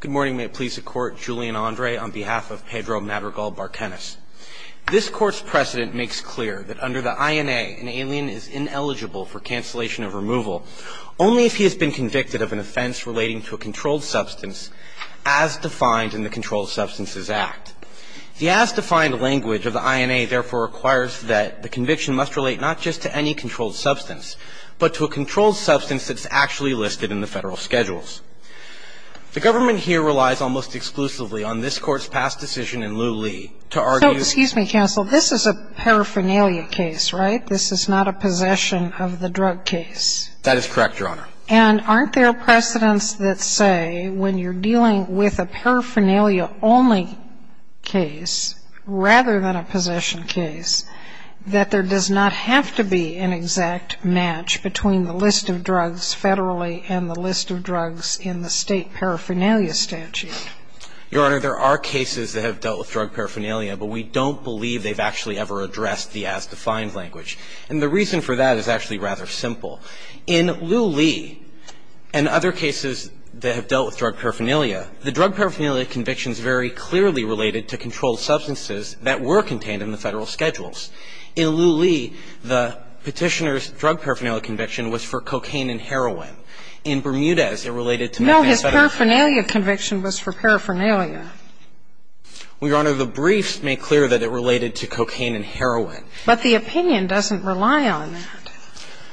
Good morning, may it please the Court, Julian Andre on behalf of Pedro Madrigal-Barcenas. This Court's precedent makes clear that under the INA, an alien is ineligible for cancellation of removal only if he has been convicted of an offense relating to a controlled substance as defined in the Controlled Substances Act. The as-defined language of the INA, therefore, requires that the conviction must relate not just to any controlled substance, but to a controlled substance that's actually listed in the federal schedules. The government here relies almost exclusively on this Court's past decision in Liu-Li to argue that- So, excuse me, counsel. This is a paraphernalia case, right? This is not a possession of the drug case. That is correct, Your Honor. And aren't there precedents that say when you're dealing with a paraphernalia-only case rather than a possession case, that there does not have to be an exact match between the list of drugs federally and the list of drugs in the state paraphernalia statute? Your Honor, there are cases that have dealt with drug paraphernalia, but we don't believe they've actually ever addressed the as-defined language. And the reason for that is actually rather simple. In Liu-Li and other cases that have dealt with drug paraphernalia, the drug paraphernalia conviction is very clearly related to controlled substances that were contained in the federal schedules. In Liu-Li, the Petitioner's drug paraphernalia conviction was for cocaine and heroin. In Bermudez, it related to- No, his paraphernalia conviction was for paraphernalia. Well, Your Honor, the briefs make clear that it related to cocaine and heroin. But the opinion doesn't rely on that.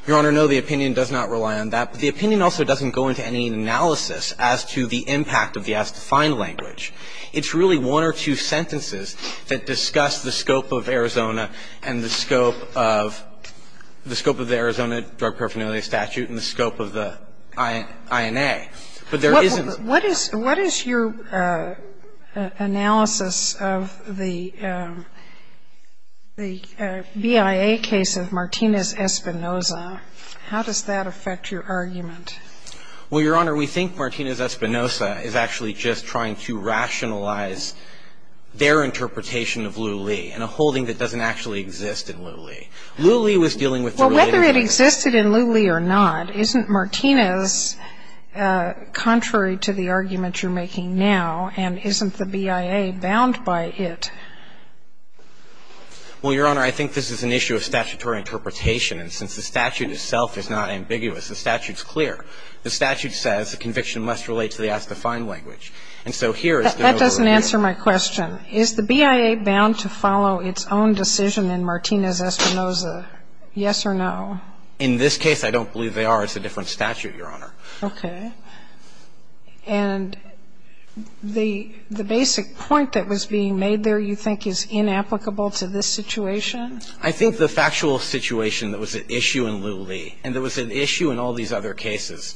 Your Honor, no, the opinion does not rely on that. But the opinion also doesn't go into any analysis as to the impact of the as-defined language. It's really one or two sentences that discuss the scope of Arizona and the scope of the Arizona drug paraphernalia statute and the scope of the INA. But there isn't- What is your analysis of the BIA case of Martinez-Espinosa? How does that affect your argument? Well, Your Honor, we think Martinez-Espinosa is actually just trying to rationalize their interpretation of Liu-Li and a holding that doesn't actually exist in Liu-Li. Liu-Li was dealing with the related- Well, whether it existed in Liu-Li or not, isn't Martinez contrary to the argument you're making now, and isn't the BIA bound by it? Well, Your Honor, I think this is an issue of statutory interpretation. And since the statute itself is not ambiguous, the statute's clear. The statute says the conviction must relate to the as-defined language. And so here is the- That doesn't answer my question. Is the BIA bound to follow its own decision in Martinez-Espinosa, yes or no? In this case, I don't believe they are. It's a different statute, Your Honor. Okay. And the basic point that was being made there, you think, is inapplicable to this situation? I think the factual situation that was at issue in Liu-Li, and that was at issue in all these other cases,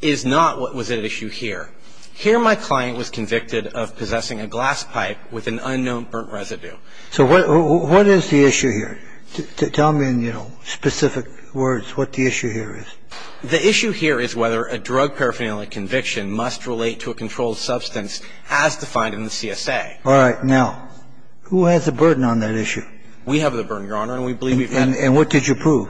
is not what was at issue here. Here, my client was convicted of possessing a glass pipe with an unknown burnt residue. So what is the issue here? Tell me in, you know, specific words what the issue here is. The issue here is whether a drug paraphernalia conviction must relate to a controlled substance as defined in the CSA. All right. Now, who has the burden on that issue? We have the burden, Your Honor, and we believe we've had- And what did you prove?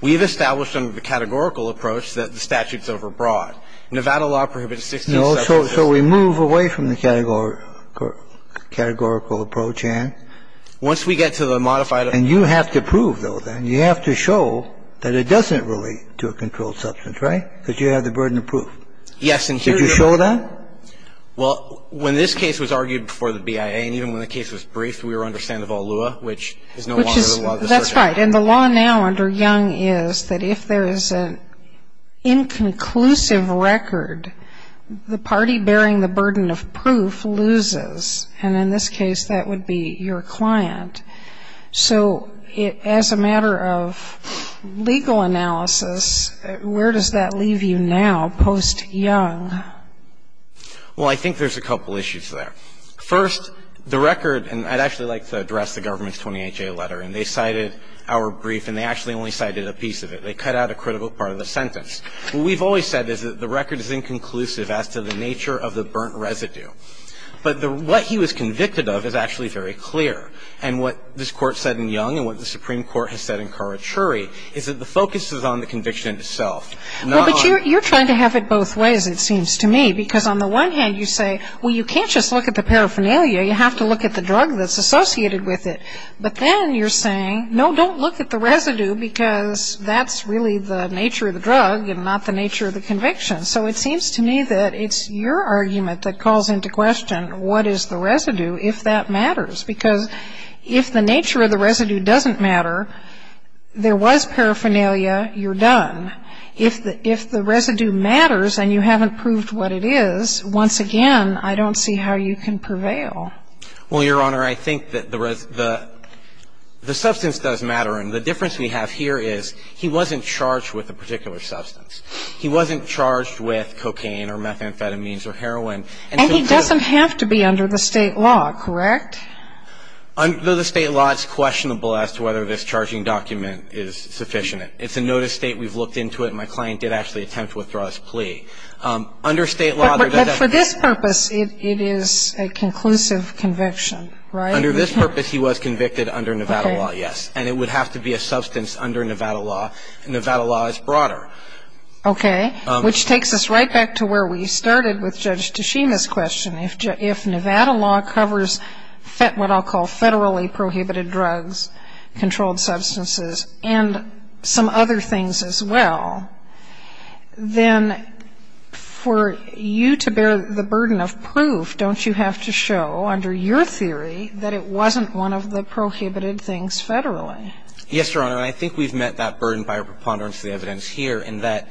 We've established under the categorical approach that the statute's overbroad. Nevada law prohibits 16-substance- No. So we move away from the categorical approach, and? Once we get to the modified- And you have to prove, though, then. You have to show that it doesn't relate to a controlled substance, right? Because you have the burden of proof. Yes, and here- Did you show that? Well, when this case was argued before the BIA, and even when the case was briefed, we were under Sandoval-Lua, which is no longer the law of the circuit. That's right. And the law now under Young is that if there is an inconclusive record, the party bearing the burden of proof loses, and in this case, that would be your client. So as a matter of legal analysis, where does that leave you now, post-Young? Well, I think there's a couple issues there. First, the record, and I'd actually like to address the government's 28-J letter. And they cited our brief, and they actually only cited a piece of it. They cut out a critical part of the sentence. What we've always said is that the record is inconclusive as to the nature of the burnt residue. But what he was convicted of is actually very clear. And what this Court said in Young and what the Supreme Court has said in Karachuri is that the focus is on the conviction itself, not on- Well, but you're trying to have it both ways, it seems to me, because on the one hand, you say, well, you can't just look at the paraphernalia. You have to look at the drug that's associated with it. But then you're saying, no, don't look at the residue because that's really the nature of the drug and not the nature of the conviction. So it seems to me that it's your argument that calls into question what is the residue if that matters. Because if the nature of the residue doesn't matter, there was paraphernalia, you're done. If the residue matters and you haven't proved what it is, once again, I don't see how you can prevail. Well, Your Honor, I think that the substance does matter. And the difference we have here is he wasn't charged with a particular substance. He wasn't charged with cocaine or methamphetamines or heroin. And he doesn't have to be under the State law, correct? Under the State law, it's questionable as to whether this charging document is sufficient. It's a notice state. We've looked into it. My client did actually attempt to withdraw his plea. Under State law- But for this purpose, it is a conclusive conviction, right? Under this purpose, he was convicted under Nevada law, yes. And it would have to be a substance under Nevada law. Nevada law is broader. Okay. Which takes us right back to where we started with Judge Tashima's question. If Nevada law covers what I'll call federally prohibited drugs, controlled substances, and some other things as well, then for you to bear the burden of proof, don't you have to show, under your theory, that it wasn't one of the prohibited things federally? Yes, Your Honor. And I think we've met that burden by our preponderance of the evidence here, in that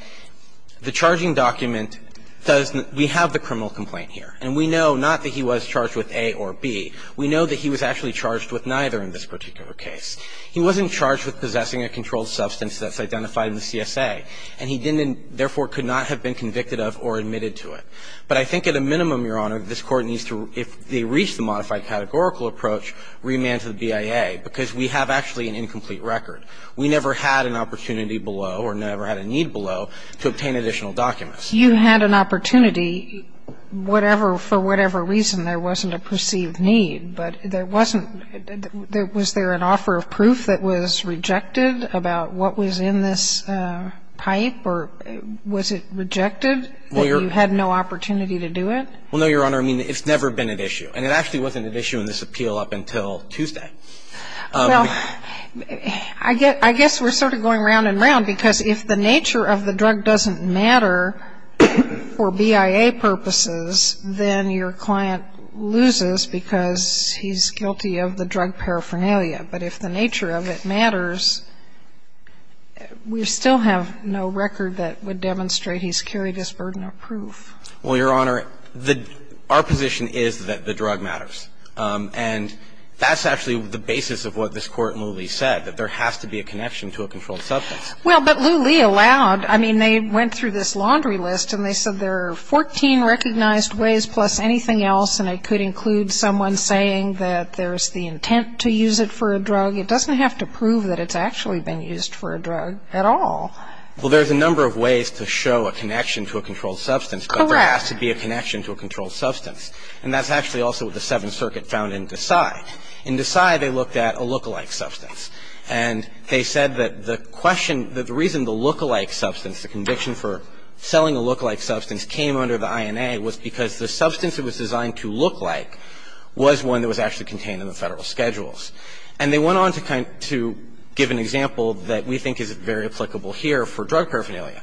the charging document does the – we have the criminal complaint here. And we know not that he was charged with A or B. We know that he was actually charged with neither in this particular case. He wasn't charged with possessing a controlled substance that's identified in the CSA. And he didn't – therefore, could not have been convicted of or admitted to it. But I think at a minimum, Your Honor, this Court needs to – if they reach the modified categorical approach, remand to the BIA, because we have actually an incomplete record. We never had an opportunity below or never had a need below to obtain additional documents. You had an opportunity whatever – for whatever reason. There wasn't a perceived need. But there wasn't – was there an offer of proof that was rejected about what was in this pipe? Or was it rejected that you had no opportunity to do it? Well, no, Your Honor. I mean, it's never been at issue. And it actually wasn't at issue in this appeal up until Tuesday. Well, I guess we're sort of going round and round, because if the nature of the drug doesn't matter for BIA purposes, then your client loses because he's guilty of the drug paraphernalia. But if the nature of it matters, we still have no record that would demonstrate he's carried his burden of proof. Well, Your Honor, the – our position is that the drug matters. And that's actually the basis of what this Court in Lulee said, that there has to be a connection to a controlled substance. Well, but Lulee allowed. I mean, they went through this laundry list, and they said there are 14 recognized ways plus anything else. And it could include someone saying that there's the intent to use it for a drug. It doesn't have to prove that it's actually been used for a drug at all. Well, there's a number of ways to show a connection to a controlled substance. Correct. But there has to be a connection to a controlled substance. And that's actually also what the Seventh Circuit found in Desai. In Desai, they looked at a lookalike substance. And they said that the question – that the reason the lookalike substance, the conviction for selling a lookalike substance, came under the INA was because the substance it was designed to look like was one that was actually contained in the Federal Schedules. And they went on to kind – to give an example that we think is very applicable here for drug paraphernalia.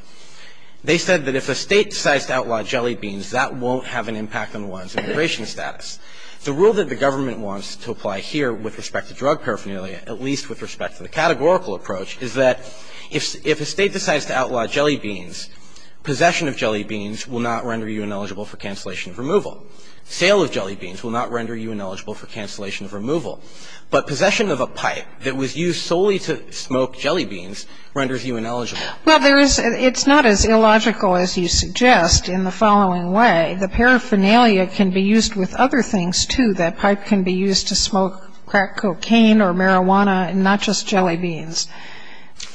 They said that if a State decides to outlaw jelly beans, that won't have an impact on one's immigration status. The rule that the government wants to apply here with respect to drug paraphernalia, at least with respect to the categorical approach, is that if a State decides to outlaw jelly beans, possession of jelly beans will not render you ineligible for cancellation of removal. Sale of jelly beans will not render you ineligible for cancellation of removal. But possession of a pipe that was used solely to smoke jelly beans renders you ineligible. Well, there is – it's not as illogical as you suggest in the following way. The paraphernalia can be used with other things, too. That pipe can be used to smoke crack cocaine or marijuana and not just jelly beans.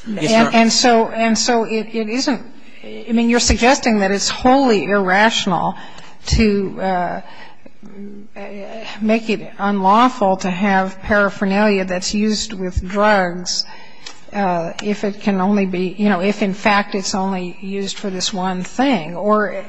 Yes, ma'am. And so – and so it isn't – I mean, you're suggesting that it's wholly irrational to make it unlawful to have paraphernalia that's used with drugs if it can only be – you know, if in fact it's only used for this one thing. Or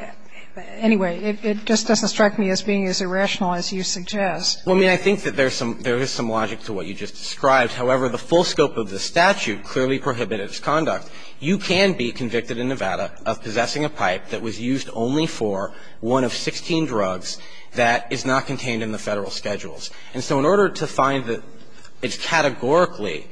anyway, it just doesn't strike me as being as irrational as you suggest. Well, I mean, I think that there's some – there is some logic to what you just described. However, the full scope of the statute clearly prohibited its conduct. You can be convicted in Nevada of possessing a pipe that was used only for one of 16 drugs that is not contained in the Federal schedules. And so in order to find that it's categorically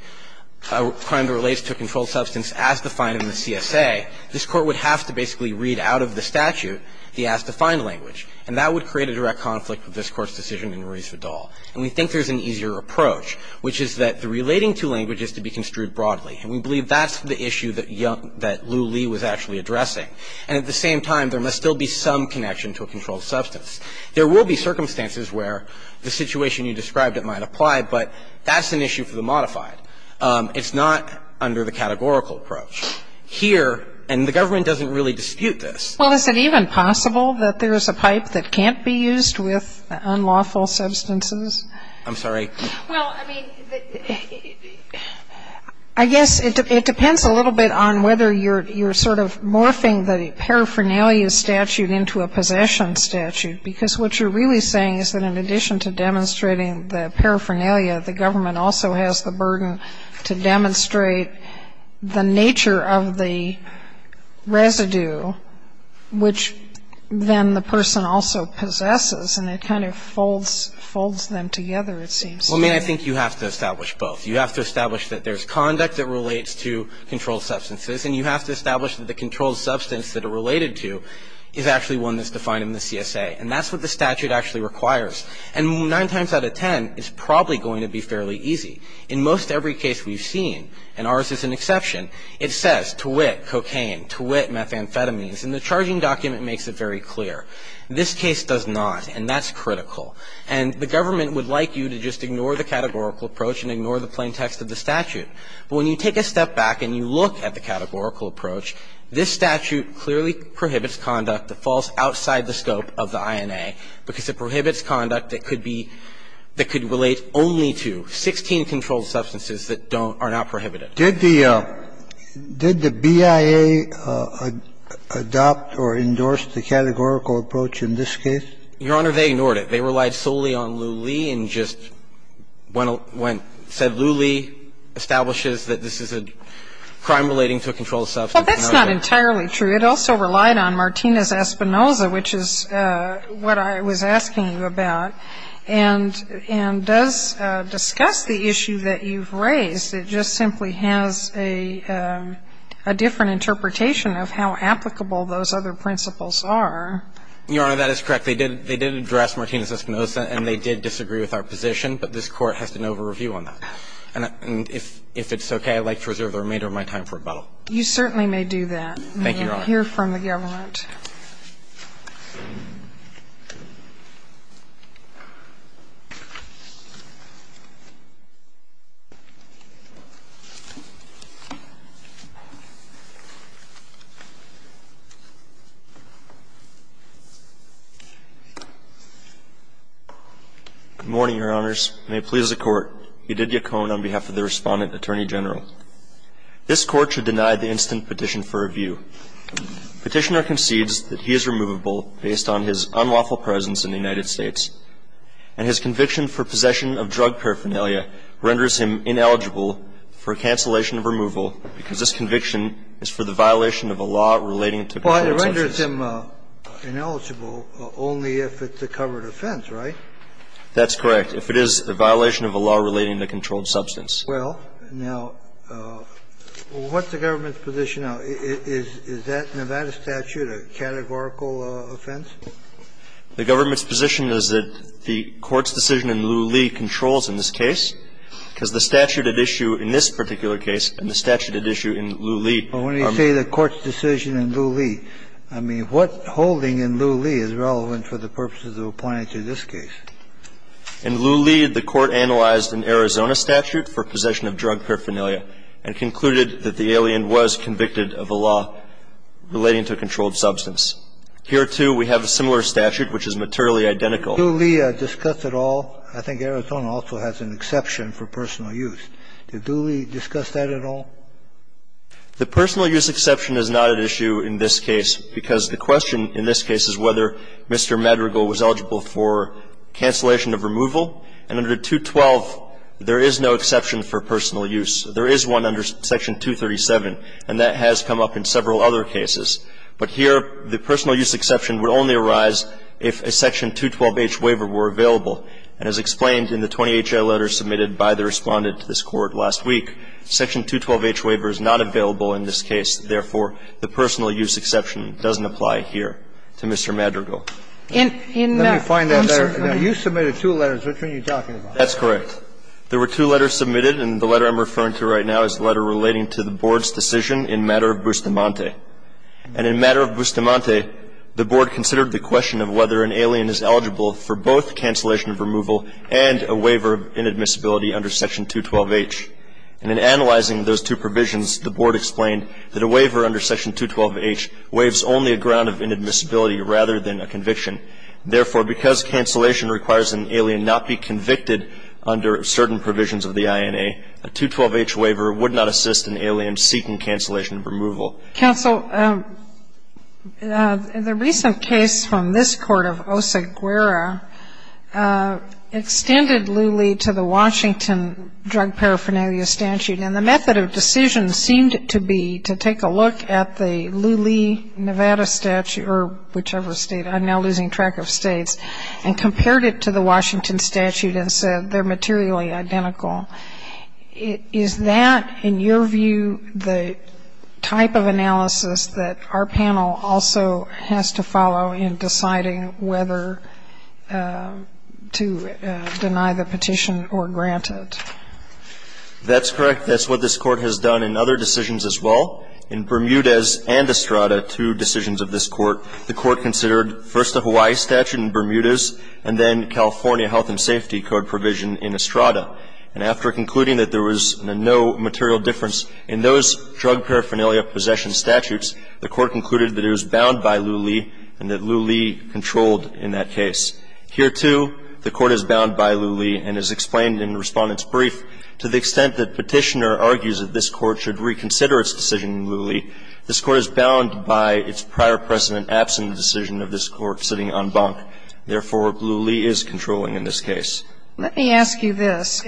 a crime that relates to a controlled substance as defined in the CSA, this Court would have to basically read out of the statute the as-defined language. And that would create a direct conflict with this Court's decision in Ruiz-Vidal. And we think there's an easier approach, which is that the relating to language is to be construed broadly. And we believe that's the issue that Lou Lee was actually addressing. And at the same time, there must still be some connection to a controlled substance. There will be circumstances where the situation you described, it might apply, but that's an issue for the modified. It's not under the categorical approach. Here, and the government doesn't really dispute this. Well, is it even possible that there's a pipe that can't be used with unlawful substances? I'm sorry? Well, I mean, I guess it depends a little bit on whether you're sort of morphing the paraphernalia statute into a possession statute, because what you're really saying is that in addition to demonstrating the paraphernalia, the government also has the burden to demonstrate the nature of the residue, which then the person also possesses, and it kind of folds them together, it seems to me. Well, I mean, I think you have to establish both. You have to establish that there's conduct that relates to controlled substances. And you have to establish that the controlled substance that it related to is actually one that's defined in the CSA. And that's what the statute actually requires. And nine times out of ten, it's probably going to be fairly easy. In most every case we've seen, and ours is an exception, it says, to wit cocaine, to wit methamphetamines, and the charging document makes it very clear. This case does not, and that's critical. And the government would like you to just ignore the categorical approach and ignore the plain text of the statute. But when you take a step back and you look at the categorical approach, this statute clearly prohibits conduct that falls outside the scope of the INA, because it prohibits conduct that could be, that could relate only to 16 controlled substances that don't are not prohibited. Did the, did the BIA adopt or endorse the categorical approach in this case? Your Honor, they ignored it. They relied solely on Lew Lee and just went, said Lew Lee establishes that this is a crime relating to a controlled substance. Well, that's not entirely true. It also relied on Martinez-Espinosa, which is what I was asking you about. And, and does discuss the issue that you've raised. It just simply has a, a different interpretation of how applicable those other principles are. Your Honor, that is correct. They did, they did address Martinez-Espinosa, and they did disagree with our position. But this Court has to know the review on that. And if, if it's okay, I'd like to reserve the remainder of my time for rebuttal. You certainly may do that. Thank you, Your Honor. We'll hear from the government. Good morning, Your Honors. May it please the Court. Eudidia Cohn on behalf of the Respondent Attorney General. This Court should deny the instant petition for review. Petitioner concedes that he is removable based on his unlawful presence in the United States, and his conviction for possession of drug paraphernalia renders him ineligible for cancellation of removal, because this conviction is for the violation of a law relating to a controlled substance. Well, it renders him ineligible only if it's a covered offense, right? That's correct, if it is a violation of a law relating to a controlled substance. Well, now, what's the government's position now? Is that Nevada statute a categorical offense? The government's position is that the Court's decision in Lew Lee controls in this case, because the statute at issue in this particular case and the statute at issue in Lew Lee are the same. But when you say the Court's decision in Lew Lee, I mean, what holding in Lew Lee is relevant for the purposes of applying to this case? In Lew Lee, the Court analyzed an Arizona statute for possession of drug paraphernalia and concluded that the alien was convicted of a law relating to a controlled substance. Here, too, we have a similar statute, which is materially identical. Did Lew Lee discuss at all? I think Arizona also has an exception for personal use. Did Lew Lee discuss that at all? The personal use exception is not at issue in this case, because the question in this case is whether Mr. Madrigal was eligible for cancellation of removal. And under 212, there is no exception for personal use. There is one under Section 237, and that has come up in several other cases. But here, the personal use exception would only arise if a Section 212H waiver were available. And as explained in the 20 HA letters submitted by the Respondent to this Court last week, Section 212H waiver is not available in this case. Therefore, the personal use exception doesn't apply here to Mr. Madrigal. In the answer to that, you submitted two letters. Which one are you talking about? That's correct. There were two letters submitted, and the letter I'm referring to right now is a letter relating to the Board's decision in matter of Bustamante. And in matter of Bustamante, the Board considered the question of whether an alien is eligible for both cancellation of removal and a waiver of inadmissibility under Section 212H. And in analyzing those two provisions, the Board explained that a waiver under Section 212H waives only a ground of inadmissibility rather than a conviction. Therefore, because cancellation requires an alien not be convicted under certain provisions of the INA, a 212H waiver would not assist an alien seeking cancellation of removal. Counsel, in the recent case from this Court of Oseguera, extended Lulee to the Washington Drug Paraphernalia Statute. And the method of decision seemed to be to take a look at the Lulee, Nevada statute, or whichever state, I'm now losing track of states, and compared it to the Washington statute and said they're materially identical. Is that, in your view, the type of analysis that our panel also has to follow in deciding whether to deny the petition or grant it? That's correct. That's what this Court has done in other decisions as well. In Bermudez and Estrada, two decisions of this Court, the Court considered first the Hawaii statute in Bermudez and then California Health and Safety Code provision in Estrada. And after concluding that there was no material difference in those drug paraphernalia possession statutes, the Court concluded that it was bound by Lulee and that Lulee controlled in that case. Here, too, the Court is bound by Lulee, and as explained in the Respondent's brief, to the extent that Petitioner argues that this Court should reconsider its decision in Lulee, this Court is bound by its prior precedent absent the decision of this Court sitting en banc. Therefore, Lulee is controlling in this case. Let me ask you this.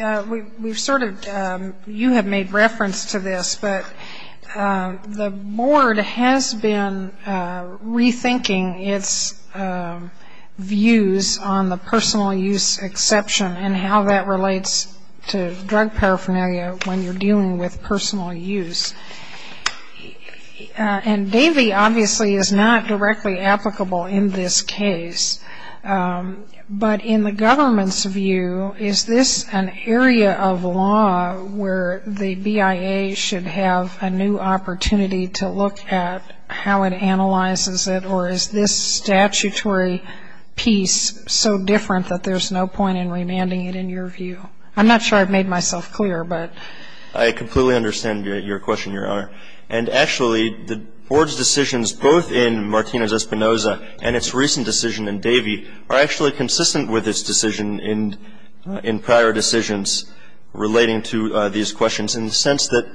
We've sort of you have made reference to this, but the Board has been rethinking its views on the personal use exception and how that relates to drug paraphernalia when you're dealing with personal use. And Davey, obviously, is not directly applicable in this case, but in the government's view, is this an area of law where the BIA should have a new statutory piece so different that there's no point in remanding it in your view? I'm not sure I've made myself clear, but. I completely understand your question, Your Honor. And actually, the Board's decisions, both in Martino's Espinoza and its recent decision in Davey, are actually consistent with its decision in prior decisions relating to these questions in the sense that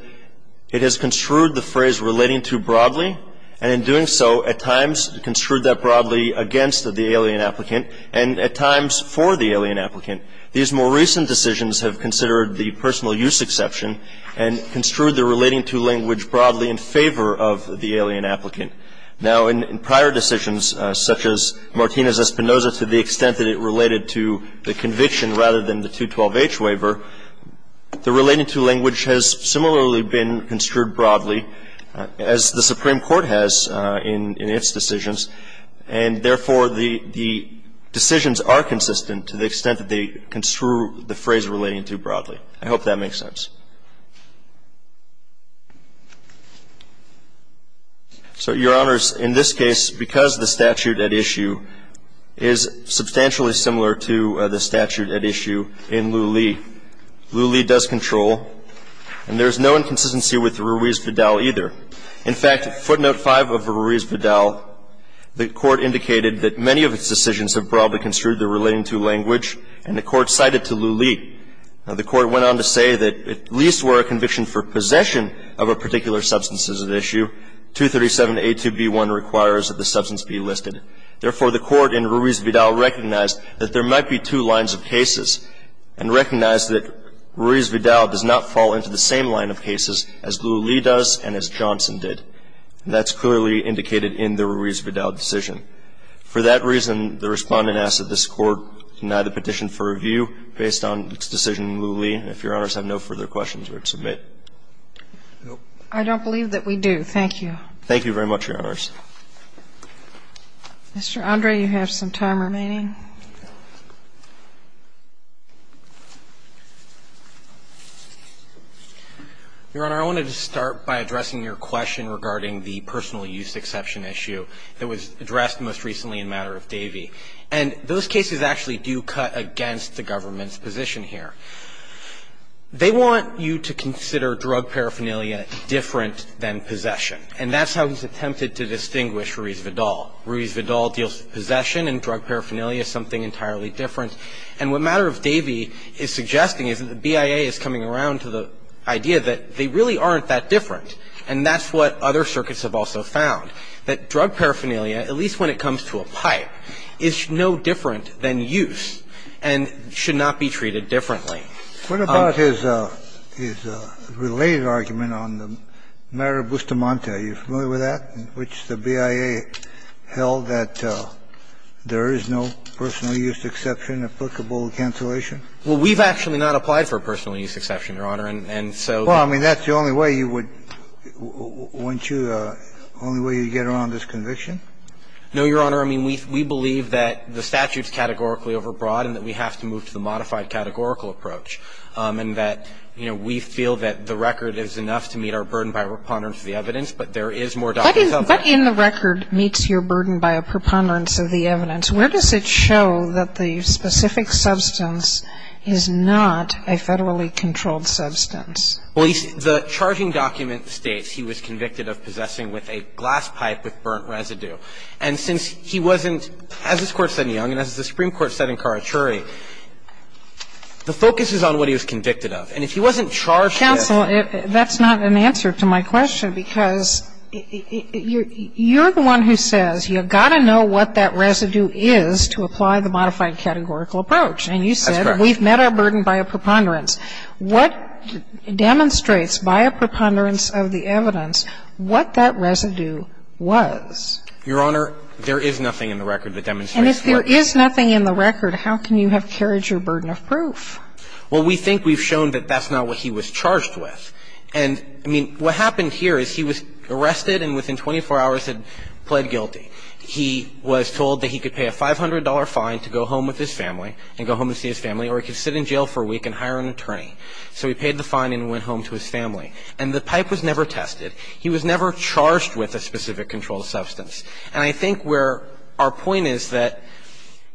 it has construed the phrase relating to broadly, and in doing so, at times, construed that broadly against the alien applicant, and at times for the alien applicant. These more recent decisions have considered the personal use exception and construed the relating to language broadly in favor of the alien applicant. Now, in prior decisions, such as Martino's Espinoza, to the extent that it related to the conviction rather than the 212H waiver, the relating to language has similarly been construed broadly, as the Supreme Court has in its decisions, and therefore, the decisions are consistent to the extent that they construe the phrase relating to broadly. I hope that makes sense. So, Your Honors, in this case, because the statute at issue is substantially similar to the statute at issue in Lew Lee, Lew Lee does control, and there's no inconsistency with Ruiz-Vidal either. In fact, footnote 5 of Ruiz-Vidal, the Court indicated that many of its decisions have broadly construed the relating to language, and the Court cited to Lew Lee. Now, the Court went on to say that at least where a conviction for possession of a particular substance is at issue, 237A2B1 requires that the substance be listed. Therefore, the Court in Ruiz-Vidal recognized that there might be two lines of cases and recognized that Ruiz-Vidal does not fall into the same line of cases as Lew Lee does and as Johnson did. And that's clearly indicated in the Ruiz-Vidal decision. For that reason, the Respondent asks that this Court deny the petition for review based on its decision in Lew Lee. And if Your Honors have no further questions, you are to submit. I don't believe that we do. Thank you. Thank you very much, Your Honors. Mr. Andre, you have some time remaining. Your Honor, I wanted to start by addressing your question regarding the personal use exception issue that was addressed most recently in a matter of Davey. And those cases actually do cut against the government's position here. They want you to consider drug paraphernalia different than possession, and that's how it was attempted to distinguish Ruiz-Vidal. Ruiz-Vidal deals with possession and drug paraphernalia separately, and Davey deals with possession and drug paraphernalia separately. And so the question is, is the use of paraphernalia something entirely different? And what matter of Davey is suggesting is that the BIA is coming around to the idea that they really aren't that different, and that's what other circuits have also found, that drug paraphernalia, at least when it comes to a pipe, is no different than use and should not be treated differently. What about his related argument on the matter of Bustamante? Are you familiar with that, in which the BIA held that there is no personal use exception applicable to cancellation? Well, we've actually not applied for a personal use exception, Your Honor, and so Well, I mean, that's the only way you would – weren't you – the only way you would get around this conviction? No, Your Honor. I mean, we believe that the statute's categorically overbroad and that we have to move to the modified categorical approach, and that, you know, we feel that the record is enough to meet our burden by a preponderance of the evidence, but there is more documents out there. What in the record meets your burden by a preponderance of the evidence? Where does it show that the specific substance is not a federally controlled substance? Well, the charging document states he was convicted of possessing with a glass pipe with burnt residue. And since he wasn't, as this Court said in Young and as the Supreme Court said in Young, the focus is on what he was convicted of. And if he wasn't charged with – Counsel, that's not an answer to my question, because you're the one who says you've got to know what that residue is to apply the modified categorical approach. And you said – That's correct. We've met our burden by a preponderance. What demonstrates by a preponderance of the evidence what that residue was? Your Honor, there is nothing in the record that demonstrates – And if there is nothing in the record, how can you have carried your burden of proof? Well, we think we've shown that that's not what he was charged with. And, I mean, what happened here is he was arrested and within 24 hours had pled guilty. He was told that he could pay a $500 fine to go home with his family and go home to see his family, or he could sit in jail for a week and hire an attorney. So he paid the fine and went home to his family. And the pipe was never tested. He was never charged with a specific controlled substance. And I think where our point is that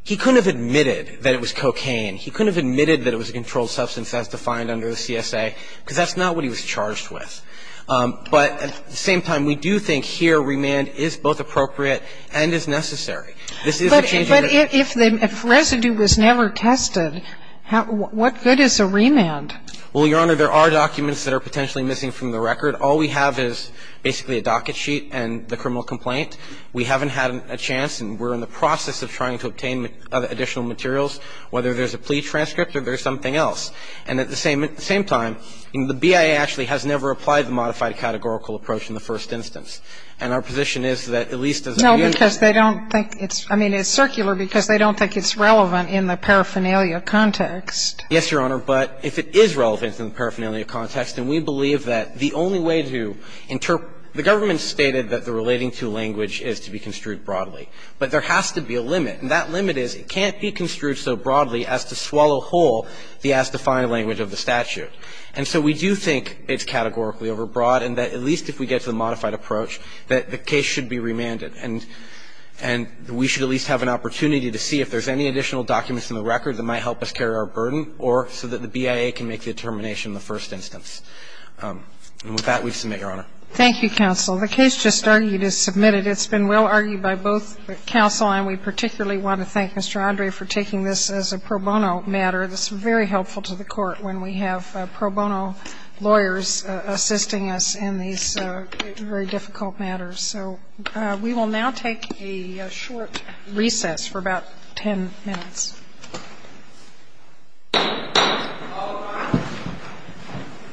he couldn't have admitted that it was cocaine. He couldn't have admitted that it was a controlled substance as defined under the CSA, because that's not what he was charged with. But at the same time, we do think here remand is both appropriate and is necessary. This is a change of the – But if the residue was never tested, what good is a remand? Well, Your Honor, there are documents that are potentially missing from the record. All we have is basically a docket sheet and the criminal complaint. We haven't had a chance, and we're in the process of trying to obtain additional materials, whether there's a plea transcript or there's something else. And at the same time, the BIA actually has never applied the modified categorical approach in the first instance. And our position is that at least as a unit of – No, because they don't think it's – I mean, it's circular because they don't think it's relevant in the paraphernalia context. Yes, Your Honor. But if it is relevant in the paraphernalia context, and we believe that the only way to interpret – the government stated that the relating-to language is to be construed broadly. But there has to be a limit, and that limit is it can't be construed so broadly as to swallow whole the as-defined language of the statute. And so we do think it's categorically overbroad and that at least if we get to the modified approach, that the case should be remanded. And we should at least have an opportunity to see if there's any additional documents in the record that might help us carry our burden or so that the BIA can make the determination in the first instance. And with that, we submit, Your Honor. Thank you, counsel. The case just argued is submitted. It's been well-argued by both counsel, and we particularly want to thank Mr. Andre for taking this as a pro bono matter that's very helpful to the Court when we have pro bono lawyers assisting us in these very difficult matters. So we will now take a short recess for about 10 minutes.